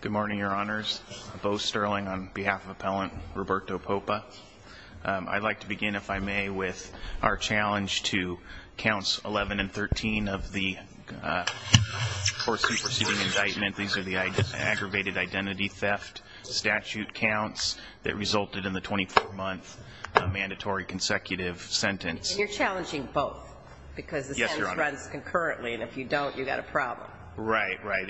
Good morning, Your Honors. Bo Sterling on behalf of Appellant Roberto Popa. I'd like to begin, if I may, with our challenge to Counts 11 and 13 of the course-in-proceeding indictment. These are the aggravated identity theft statute counts that resulted in the 24-month mandatory consecutive sentence. And you're challenging both because the sentence runs concurrently, and if you don't, you've got a problem. Right, right.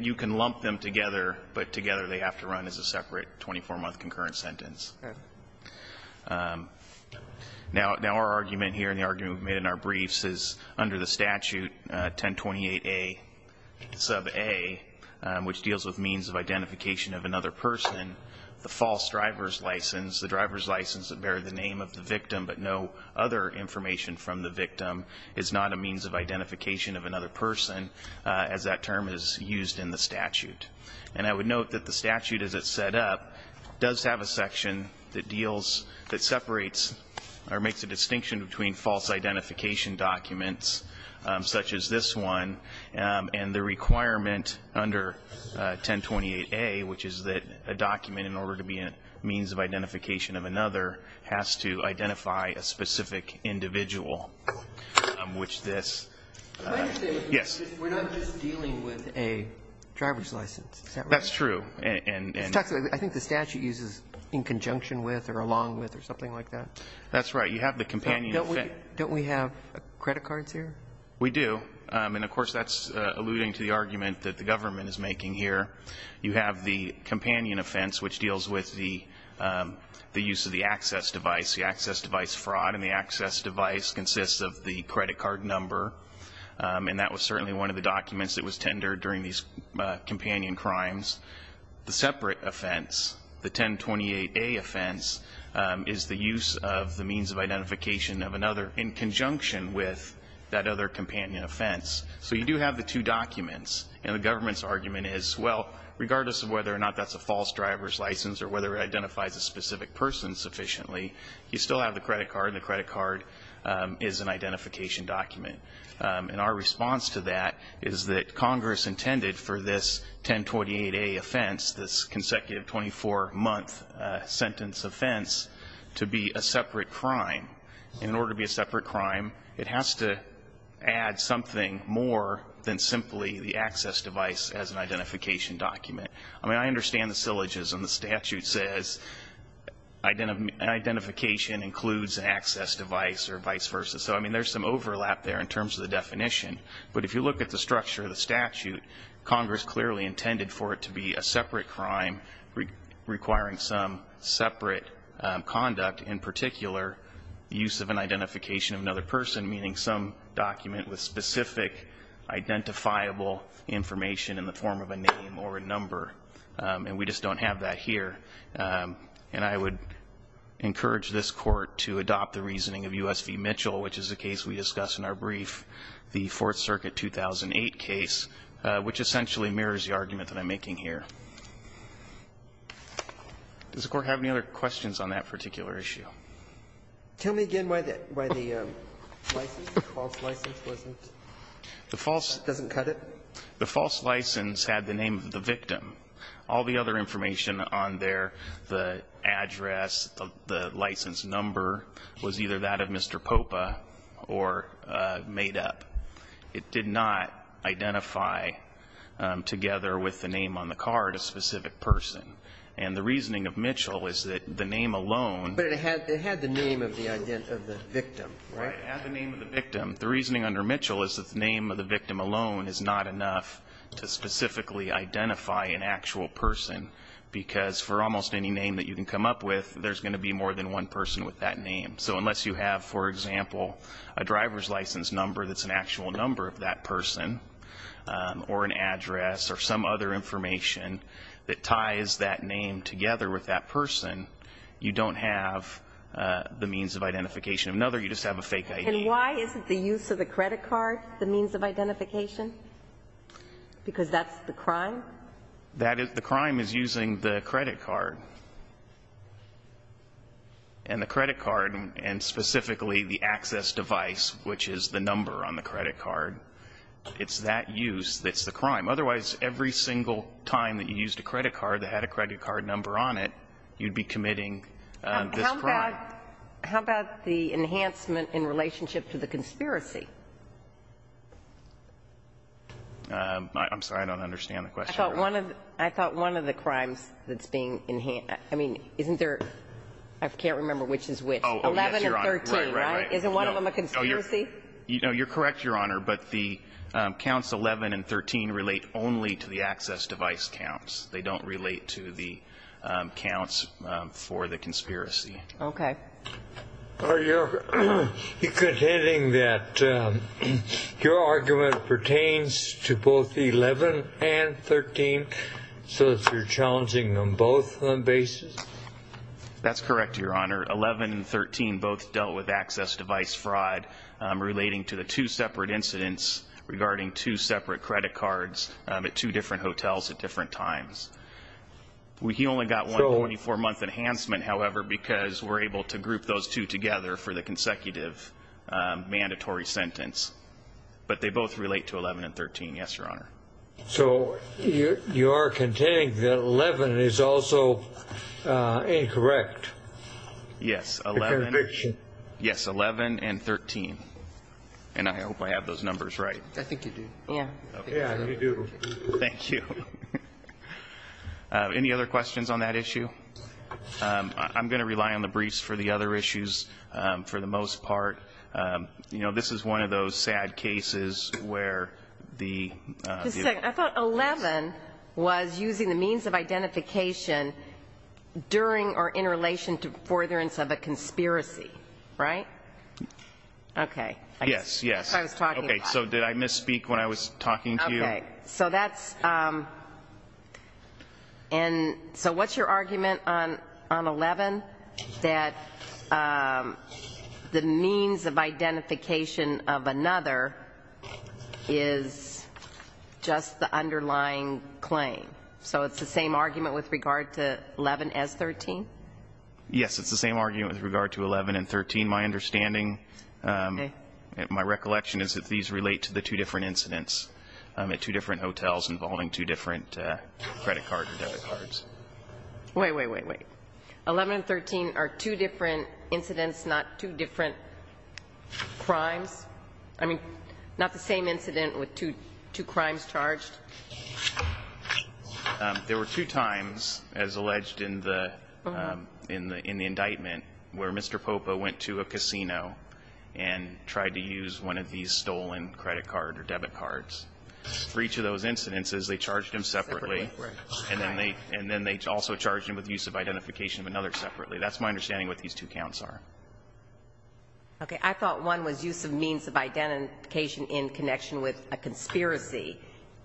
You can lump them together, but together they have to run as a separate 24-month concurrent sentence. Now our argument here and the argument we've made in our briefs is under the statute 1028a sub a, which deals with means of identification of another person, the false driver's license, the driver's license that bear the name of the victim but no other information from the victim, is not a means of identification of another person as that term is used in the statute. And I would note that the statute, as it's set up, does have a section that deals, that separates, or makes a distinction between false identification documents, such as this one, and the requirement under 1028a, which is that a document, in order to be a means of identification of another, has to identify a specific individual, which this yes. We're not just dealing with a driver's license. That's true. And I think the statute uses in conjunction with or along with or something like that. That's right. You have the companion. Don't we have credit cards here? We do. And of course, that's alluding to the argument that the government is making here. You have the companion offense, which deals with the use of the access device. The access device fraud and the access device consists of the credit card number, and that was certainly one of the documents that was tendered during these companion crimes. The separate offense, the 1028a offense, is the use of the means of identification of another in conjunction with that other companion offense. So you do have the two documents. And the government's argument is, well, regardless of whether or not that's a false driver's license or whether it identifies a specific person sufficiently, you still have the credit card, and the credit card is an identification document. And our response to that is that Congress intended for this 1028a offense, this consecutive 24-month sentence offense, to be a separate crime. And in order to be a separate crime, it has to add something more than simply the access device as an identification document. I mean, I understand the syllogism. The statute says identification includes an access device or vice versa. So, I mean, there's some overlap there in terms of the definition. But if you look at the structure of the statute, Congress clearly intended for it to be a separate crime requiring some separate conduct, in particular the use of an identification of another person, meaning some document with specific identifiable information in the form of a name or a number. And we just don't have that here. And I would encourage this Court to adopt the reasoning of U.S. v. Mitchell, which is the case we discussed in our brief, the Fourth Circuit 2008 case, which essentially mirrors the argument that I'm making here. Does the Court have any other questions on that particular issue? Tell me again why the license, the false license wasn't? The false? Doesn't cut it? The false license had the name of the victim. All the other information on there, the address, the license number, was either that of Mr. Popa or made up. It did not identify together with the name on the card a specific person. And the reasoning of Mitchell is that the name alone. But it had the name of the victim, right? It had the name of the victim. The reasoning under Mitchell is that the name of the victim alone is not enough to specifically identify an actual person, because for almost any name that you can come up with, there's going to be more than one person with that name. So unless you have, for example, a driver's license number that's an actual number of that person, or an address, or some other information that ties that name together with that person, you don't have the means of identification. Another, you just have a fake ID. And why isn't the use of the credit card the means of identification? Because that's the crime? The crime is using the credit card. And the credit card, and specifically the access device, which is the number on the credit card, it's that use that's the crime. Otherwise, every single time that you used a credit card that had a credit card number on it, you'd be committing this crime. How about the enhancement in relationship to the conspiracy? I'm sorry. I don't understand the question. I thought one of the crimes that's being enhanced, I mean, isn't there, I can't remember which is which. Oh, yes, Your Honor. 11 and 13, right? Right, right. Isn't one of them a conspiracy? No, you're correct, Your Honor. But the counts 11 and 13 relate only to the access device counts. They don't relate to the counts for the conspiracy. Okay. Are you contending that your argument pertains to both 11 and 13, so that you're challenging them both on basis? That's correct, Your Honor. 11 and 13 both dealt with access device fraud relating to the two separate incidents regarding two separate credit cards at two different hotels at different times. He only got one 24-month enhancement, however, because we're able to group those two together for the consecutive mandatory sentence. But they both relate to 11 and 13, yes, Your Honor. So you are contending that 11 is also incorrect? Yes, 11 and 13. And I hope I have those numbers right. I think you do. Yeah. Yeah, you do. Thank you. Any other questions on that issue? I'm going to rely on the briefs for the other issues for the most part. You know, this is one of those sad cases where the ---- Just a second. I thought 11 was using the means of identification during or in relation to forbearance of a conspiracy, right? Yes, yes. That's what I was talking about. Okay. So did I misspeak when I was talking to you? Okay. So that's ---- And so what's your argument on 11 that the means of identification of another is just the underlying claim? So it's the same argument with regard to 11 as 13? Yes, it's the same argument with regard to 11 and 13. Okay. My recollection is that these relate to the two different incidents at two different hotels involving two different credit cards or debit cards. Wait, wait, wait, wait. 11 and 13 are two different incidents, not two different crimes? I mean, not the same incident with two crimes charged? There were two times, as alleged in the indictment, where Mr. Popa went to a casino and tried to use one of these stolen credit card or debit cards. For each of those incidences, they charged him separately. Separately, right. And then they also charged him with use of identification of another separately. That's my understanding of what these two counts are. Okay. I thought one was use of means of identification in connection with a conspiracy,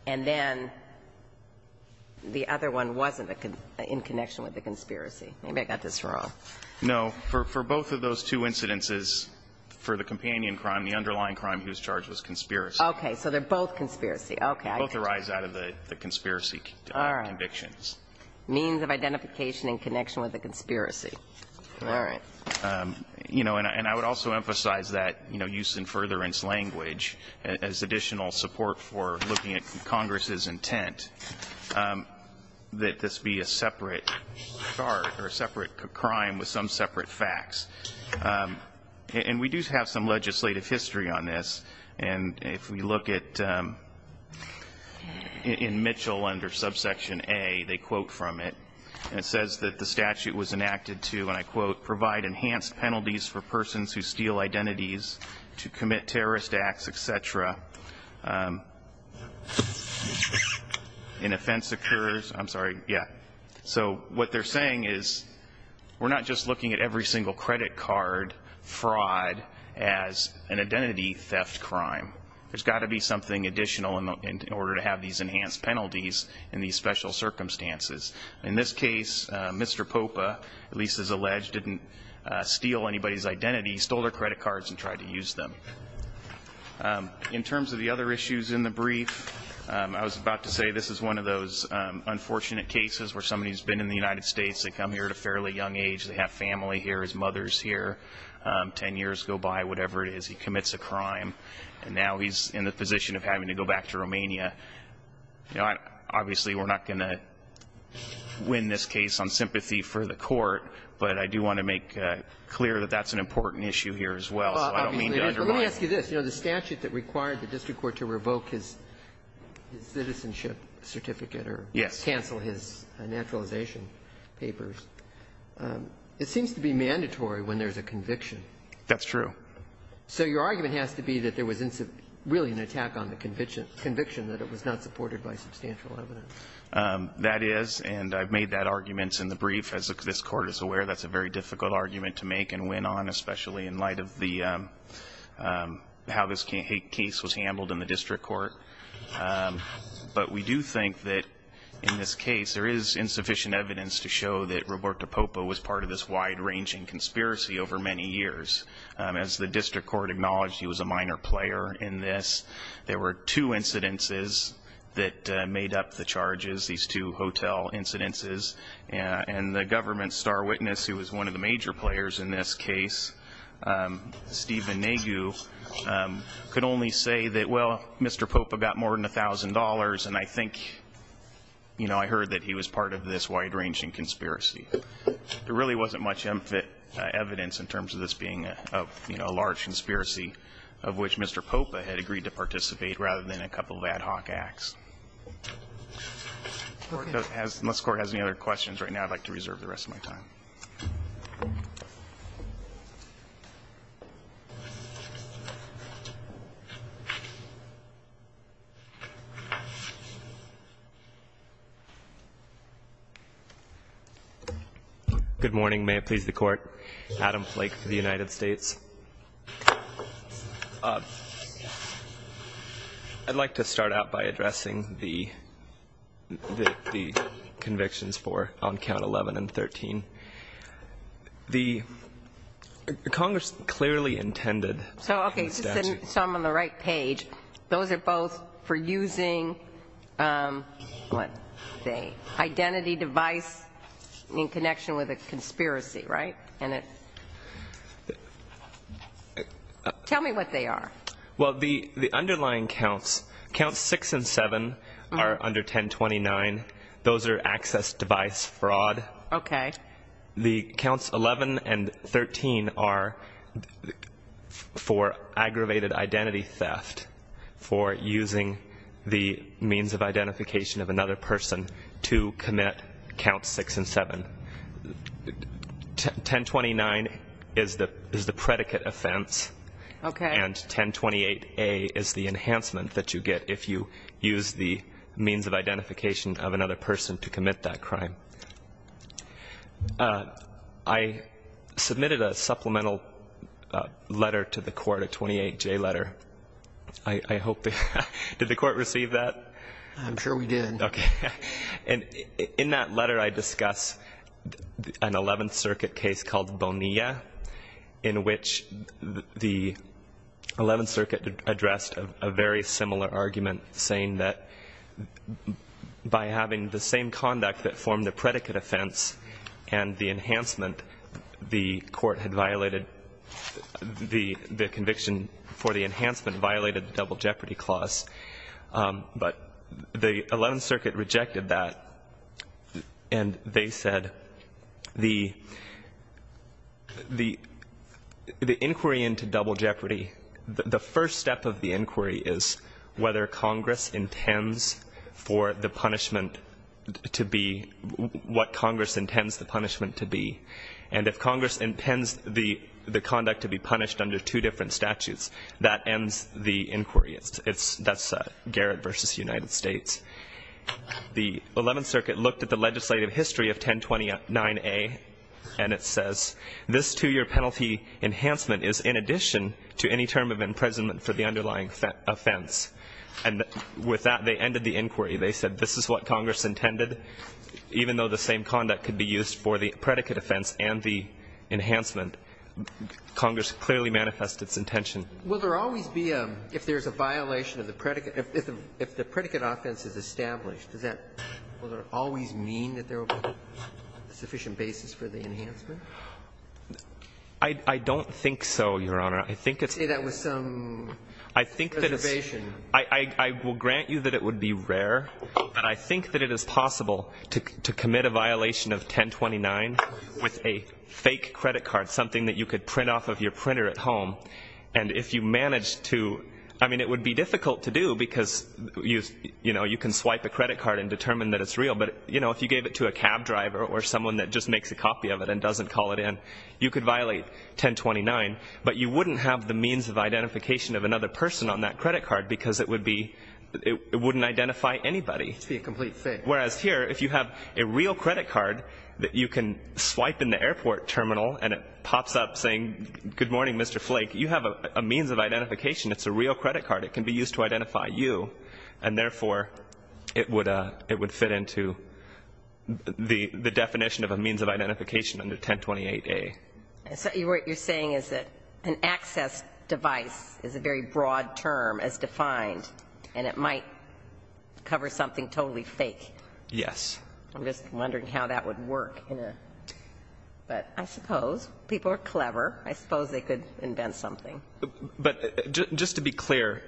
and then the other one wasn't in connection with a conspiracy. Maybe I got this wrong. No. For both of those two incidences, for the companion crime, the underlying crime he was charged was conspiracy. Okay. So they're both conspiracy. Okay. Both arise out of the conspiracy convictions. All right. Means of identification in connection with a conspiracy. All right. You know, and I would also emphasize that, you know, use in furtherance language as additional support for looking at Congress's intent that this be a separate charge or a separate crime with some separate facts. And we do have some legislative history on this. And if we look at in Mitchell under subsection A, they quote from it. And it says that the statute was enacted to, and I quote, provide enhanced penalties for persons who steal identities to commit terrorist acts, et cetera. An offense occurs. I'm sorry. Yeah. So what they're saying is we're not just looking at every single credit card fraud as an identity theft crime. There's got to be something additional in order to have these enhanced penalties in these special circumstances. In this case, Mr. Popa, at least as alleged, didn't steal anybody's identity. He stole their credit cards and tried to use them. In terms of the other issues in the brief, I was about to say this is one of those unfortunate cases where somebody's been in the United States. They come here at a fairly young age. They have family here. His mother's here. Ten years go by, whatever it is, he commits a crime. And now he's in the position of having to go back to Romania. Obviously, we're not going to win this case on sympathy for the Court. But I do want to make clear that that's an important issue here as well. So I don't mean to undermine it. Let me ask you this. The statute that required the district court to revoke his citizenship certificate or cancel his naturalization papers, it seems to be mandatory when there's a conviction. That's true. So your argument has to be that there was really an attack on the conviction, that it was not supported by substantial evidence. That is. And I've made that argument in the brief. As this Court is aware, that's a very difficult argument to make and win on, especially in light of how this case was handled in the district court. But we do think that in this case there is insufficient evidence to show that Roberto Popa was part of this wide-ranging conspiracy over many years. As the district court acknowledged, he was a minor player in this. There were two incidences that made up the charges, these two hotel incidences. And the government's star witness, who was one of the major players in this case, Steven Nagu, could only say that, well, Mr. Popa got more than $1,000, and I think, you know, I heard that he was part of this wide-ranging conspiracy. There really wasn't much evidence in terms of this being a large conspiracy of which Mr. Popa had agreed to participate rather than a couple of ad hoc acts. Unless the Court has any other questions right now, I'd like to reserve the rest of my time. Good morning. May it please the Court. Adam Flake for the United States. I'd like to start out by addressing the convictions for on count 11 and 13. The Congress clearly intended the statute. So, okay, so I'm on the right page. Those are both for using, what, the identity device in connection with a conspiracy, right? Tell me what they are. Well, the underlying counts, counts 6 and 7, are under 1029. Those are access device fraud. Okay. The counts 11 and 13 are for aggravated identity theft, for using the means of identification of another person to commit counts 6 and 7. 1029 is the predicate offense. Okay. And 1028A is the enhancement that you get if you use the means of identification of another person to commit that crime. I submitted a supplemental letter to the Court, a 28J letter. I hope that the Court received that. I'm sure we did. Okay. And in that letter I discuss an 11th Circuit case called Bonilla, in which the 11th Circuit addressed a very similar argument, saying that by having the same conduct that formed the predicate offense and the enhancement, the Court had violated the conviction for the enhancement, violated the Double Jeopardy Clause. But the 11th Circuit rejected that, and they said the inquiry into Double Jeopardy, the first step of the inquiry is whether Congress intends for the punishment to be what Congress intends the punishment to be. And if Congress intends the conduct to be punished under two different statutes, that ends the inquiry. That's Garrett v. United States. The 11th Circuit looked at the legislative history of 1029A, and it says, this two-year penalty enhancement is in addition to any term of imprisonment for the underlying offense. And with that, they ended the inquiry. They said this is what Congress intended. Even though the same conduct could be used for the predicate offense and the enhancement, Congress clearly manifested its intention. Will there always be a, if there's a violation of the predicate, if the predicate offense is established, does that, will there always mean that there will be a sufficient basis for the enhancement? I don't think so, Your Honor. I think it's rare. Say that with some reservation. I think that it's, I will grant you that it would be rare, but I think that it is possible to commit a violation of 1029 with a fake credit card, something that you could print off of your printer at home, and if you managed to, I mean, it would be difficult to do because, you know, you can swipe a credit card and determine that it's real, but, you know, if you gave it to a cab driver or someone that just makes a copy of it and doesn't call it in, you could violate 1029, but you wouldn't have the means of identification of another person on that credit card because it would be, it wouldn't identify anybody. It would be a complete fake. Whereas here, if you have a real credit card that you can swipe in the airport terminal and it pops up saying, Good morning, Mr. Flake. You have a means of identification. It's a real credit card. It can be used to identify you. And, therefore, it would fit into the definition of a means of identification under 1028A. So what you're saying is that an access device is a very broad term as defined and it might cover something totally fake. Yes. I'm just wondering how that would work. But I suppose people are clever. I suppose they could invent something. But just to be clear,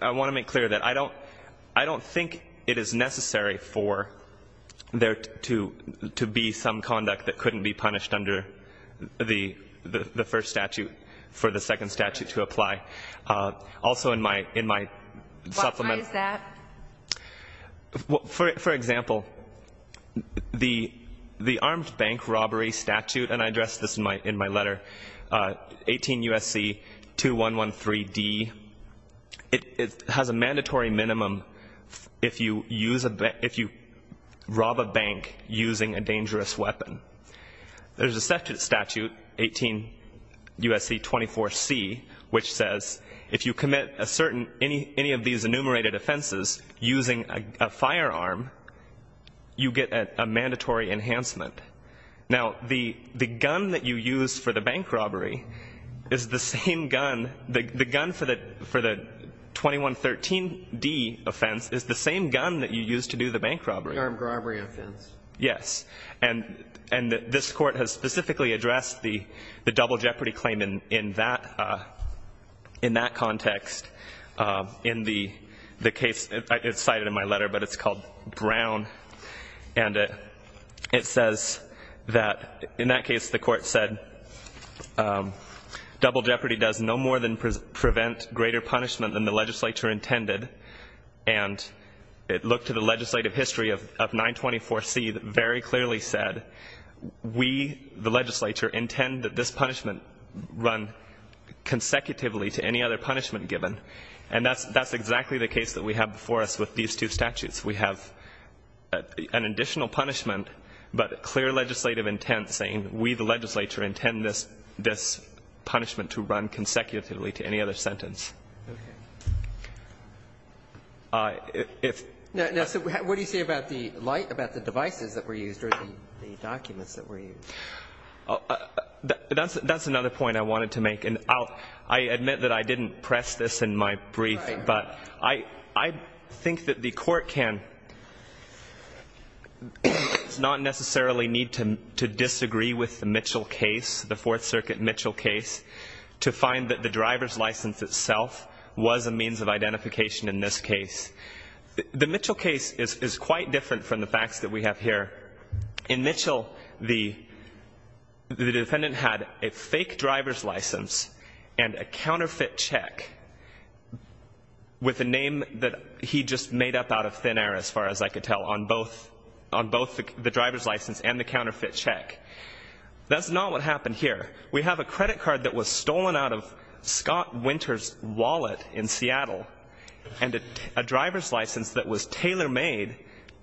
I want to make clear that I don't think it is necessary for there to be some conduct that couldn't be punished under the first statute for the second statute to apply. Also, in my supplement. Why is that? For example, the armed bank robbery statute, and I address this in my letter, 18 U.S.C. 2113D, it has a mandatory minimum if you rob a bank using a dangerous weapon. There's a second statute, 18 U.S.C. 24C, which says if you commit any of these enumerated offenses using a firearm, you get a mandatory enhancement. Now, the gun that you use for the bank robbery is the same gun, the gun for the 2113D offense is the same gun that you use to do the bank robbery. Armed robbery offense. Yes. And this Court has specifically addressed the double jeopardy claim in that context in the case cited in my letter, but it's called Brown. And it says that in that case the Court said double jeopardy does no more than prevent greater punishment than the legislature intended. And it looked to the legislative history of 924C that very clearly said we, the legislature, intend that this punishment run consecutively to any other punishment given. And that's exactly the case that we have before us with these two statutes. We have an additional punishment but clear legislative intent saying we, the legislature, intend this punishment to run consecutively to any other sentence. Okay. Now, what do you say about the light, about the devices that were used or the documents that were used? That's another point I wanted to make. I admit that I didn't press this in my brief, but I think that the Court can not necessarily need to disagree with the Mitchell case, the Fourth Circuit Mitchell case, to find that the driver's license itself was a means of identification in this case. The Mitchell case is quite different from the facts that we have here. In Mitchell, the defendant had a fake driver's license and a counterfeit check with a name that he just made up out of thin air, as far as I could tell, on both the driver's license and the counterfeit check. That's not what happened here. We have a credit card that was stolen out of Scott Winter's wallet in Seattle and a driver's license that was tailor-made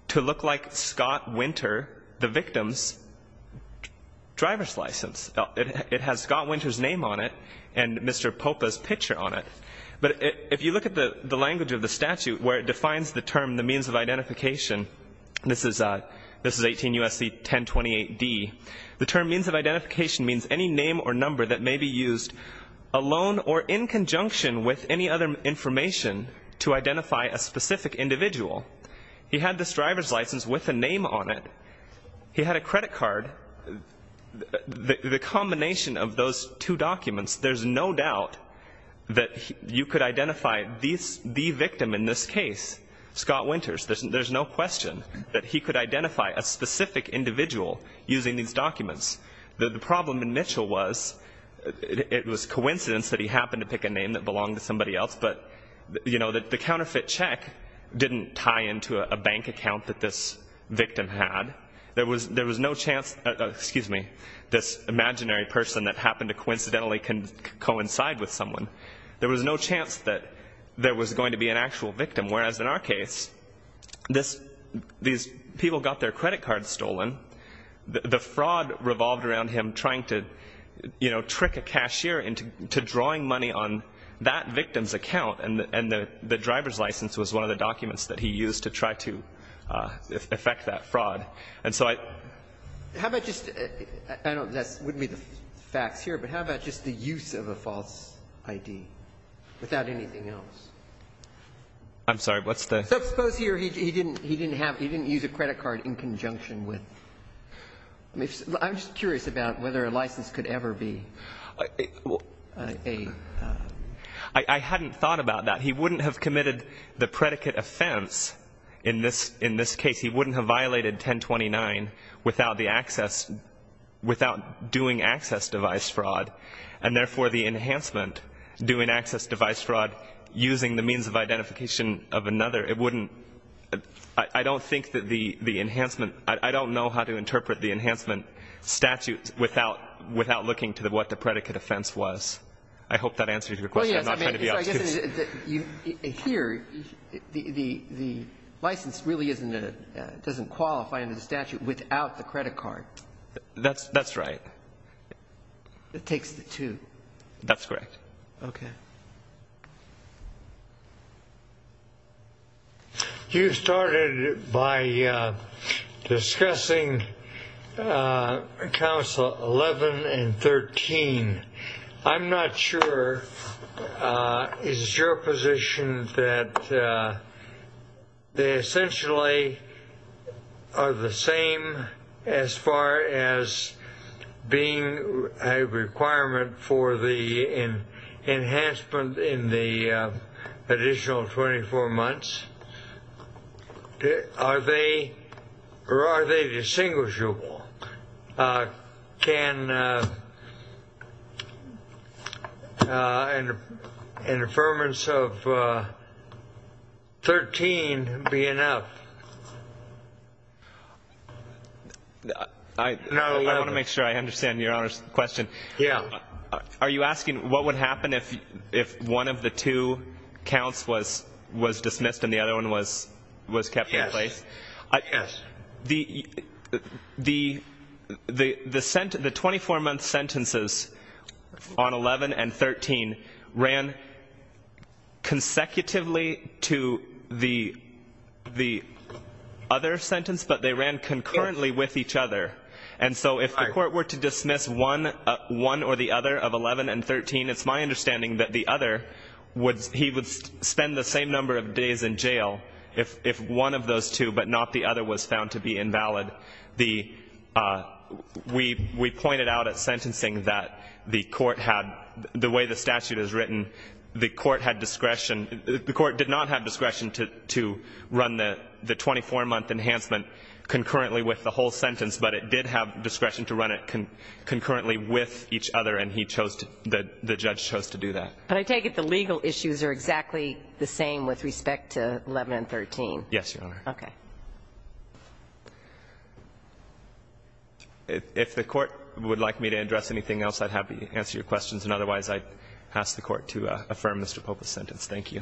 to look like Scott Winter, the victim's driver's license. It has Scott Winter's name on it and Mr. Popa's picture on it. But if you look at the language of the statute where it defines the term, the means of identification, this is 18 U.S.C. 1028d, the term means of identification means any name or number that may be used alone or in conjunction with any other information to identify a specific individual. He had this driver's license with a name on it. He had a credit card. The combination of those two documents, there's no doubt that you could identify the victim in this case, Scott Winter. There's no question that he could identify a specific individual using these documents. The problem in Mitchell was it was coincidence that he happened to pick a name that belonged to somebody else. But, you know, the counterfeit check didn't tie into a bank account that this victim had. There was no chance, excuse me, this imaginary person that happened to coincidentally coincide with someone. There was no chance that there was going to be an actual victim. Whereas in our case, these people got their credit cards stolen. The fraud revolved around him trying to, you know, trick a cashier into drawing money on that victim's account, and the driver's license was one of the documents that he used to try to effect that fraud. And so I don't know if that would be the facts here, but how about just the use of a false ID without anything else? I'm sorry, what's the? So suppose here he didn't have, he didn't use a credit card in conjunction with. I'm just curious about whether a license could ever be a. I hadn't thought about that. He wouldn't have committed the predicate offense in this case. He wouldn't have violated 1029 without the access, without doing access device fraud, and therefore the enhancement, doing access device fraud using the means of identification of another, it wouldn't, I don't think that the enhancement, I don't know how to interpret the enhancement statute without, without looking to what the predicate offense was. I hope that answers your question. I'm not trying to be obtuse. Here, the license really isn't a, doesn't qualify under the statute without the credit card. That's right. It takes the two. That's correct. Okay. You started by discussing council 11 and 13. I'm not sure. Is your position that they essentially are the same as far as being a requirement for the enhancement in the additional 24 months? Are they, or are they distinguishable? Can an affirmance of 13 be enough? I want to make sure I understand Your Honor's question. Yeah. Are you asking what would happen if one of the two counts was dismissed and the other one was kept in place? Yes. The 24-month sentences on 11 and 13 ran consecutively to the other sentence, but they ran concurrently with each other. And so if the court were to dismiss one or the other of 11 and 13, it's my understanding that the other would, he would spend the same number of days in jail if one of those two but not the other was found to be invalid. The, we pointed out at sentencing that the court had, the way the statute is written, the court had discretion, the court did not have discretion to run the 24-month enhancement concurrently with the whole sentence, but it did have discretion to run it concurrently with each other, and he chose to, the judge chose to do that. But I take it the legal issues are exactly the same with respect to 11 and 13. Yes, Your Honor. Okay. If the court would like me to address anything else, I'd be happy to answer your questions, and otherwise I'd ask the court to affirm Mr. Pope's sentence. Thank you.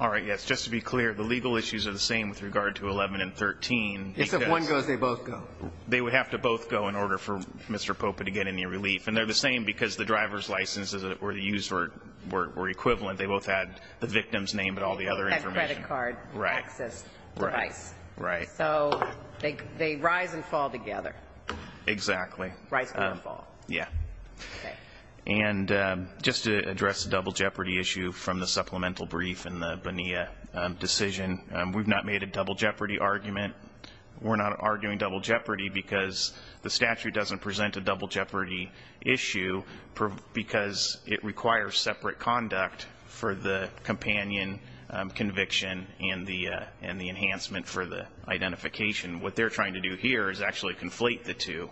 All right. Yes. Just to be clear, the legal issues are the same with regard to 11 and 13. Except one goes, they both go. They would have to both go in order for Mr. Pope to get any relief. And they're the same because the driver's licenses that were used were equivalent. They both had the victim's name, but all the other information. And credit card access device. Right. Right. So they rise and fall together. Exactly. Rise and fall. Yeah. Okay. And just to address the double jeopardy issue from the supplemental brief in the Bonilla decision, we've not made a double jeopardy argument. We're not arguing double jeopardy because the statute doesn't present a double jeopardy issue because it requires separate conduct for the companion conviction and the enhancement for the identification. What they're trying to do here is actually conflate the two.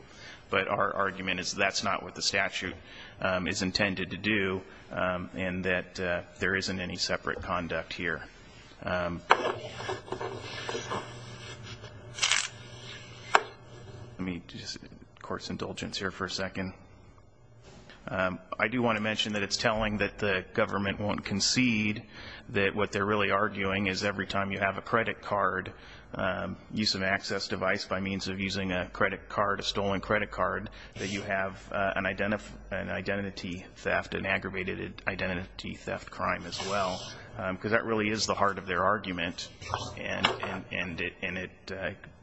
But our argument is that's not what the statute is intended to do and that there isn't any separate conduct here. Let me just get the court's indulgence here for a second. I do want to mention that it's telling that the government won't concede, that what they're really arguing is every time you have a credit card, use of access device by means of using a credit card, a stolen credit card, that you have an identity theft, an aggravated identity theft crime as well. Because that really is the heart of their argument. And it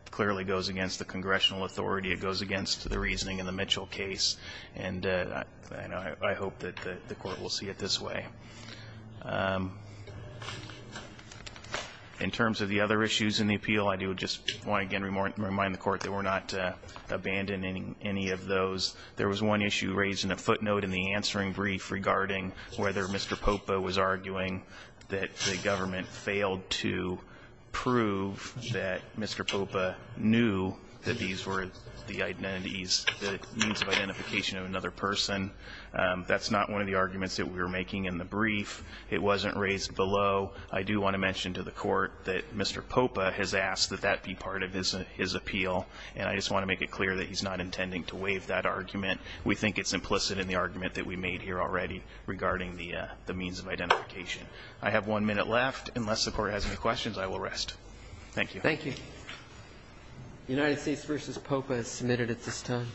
clearly goes against the congressional authority. It goes against the reasoning in the Mitchell case. And I hope that the court will see it this way. In terms of the other issues in the appeal, I do just want to again remind the court that we're not abandoning any of those. There was one issue raised in a footnote in the answering brief regarding whether Mr. Popa was arguing that the government That's not one of the arguments that we were making in the brief. It wasn't raised below. I do want to mention to the court that Mr. Popa has asked that that be part of his appeal. And I just want to make it clear that he's not intending to waive that argument. We think it's implicit in the argument that we made here already regarding the means of identification. I have one minute left. Unless the court has any questions, I will rest. Thank you. Thank you. United States v. Popa is submitted at this time.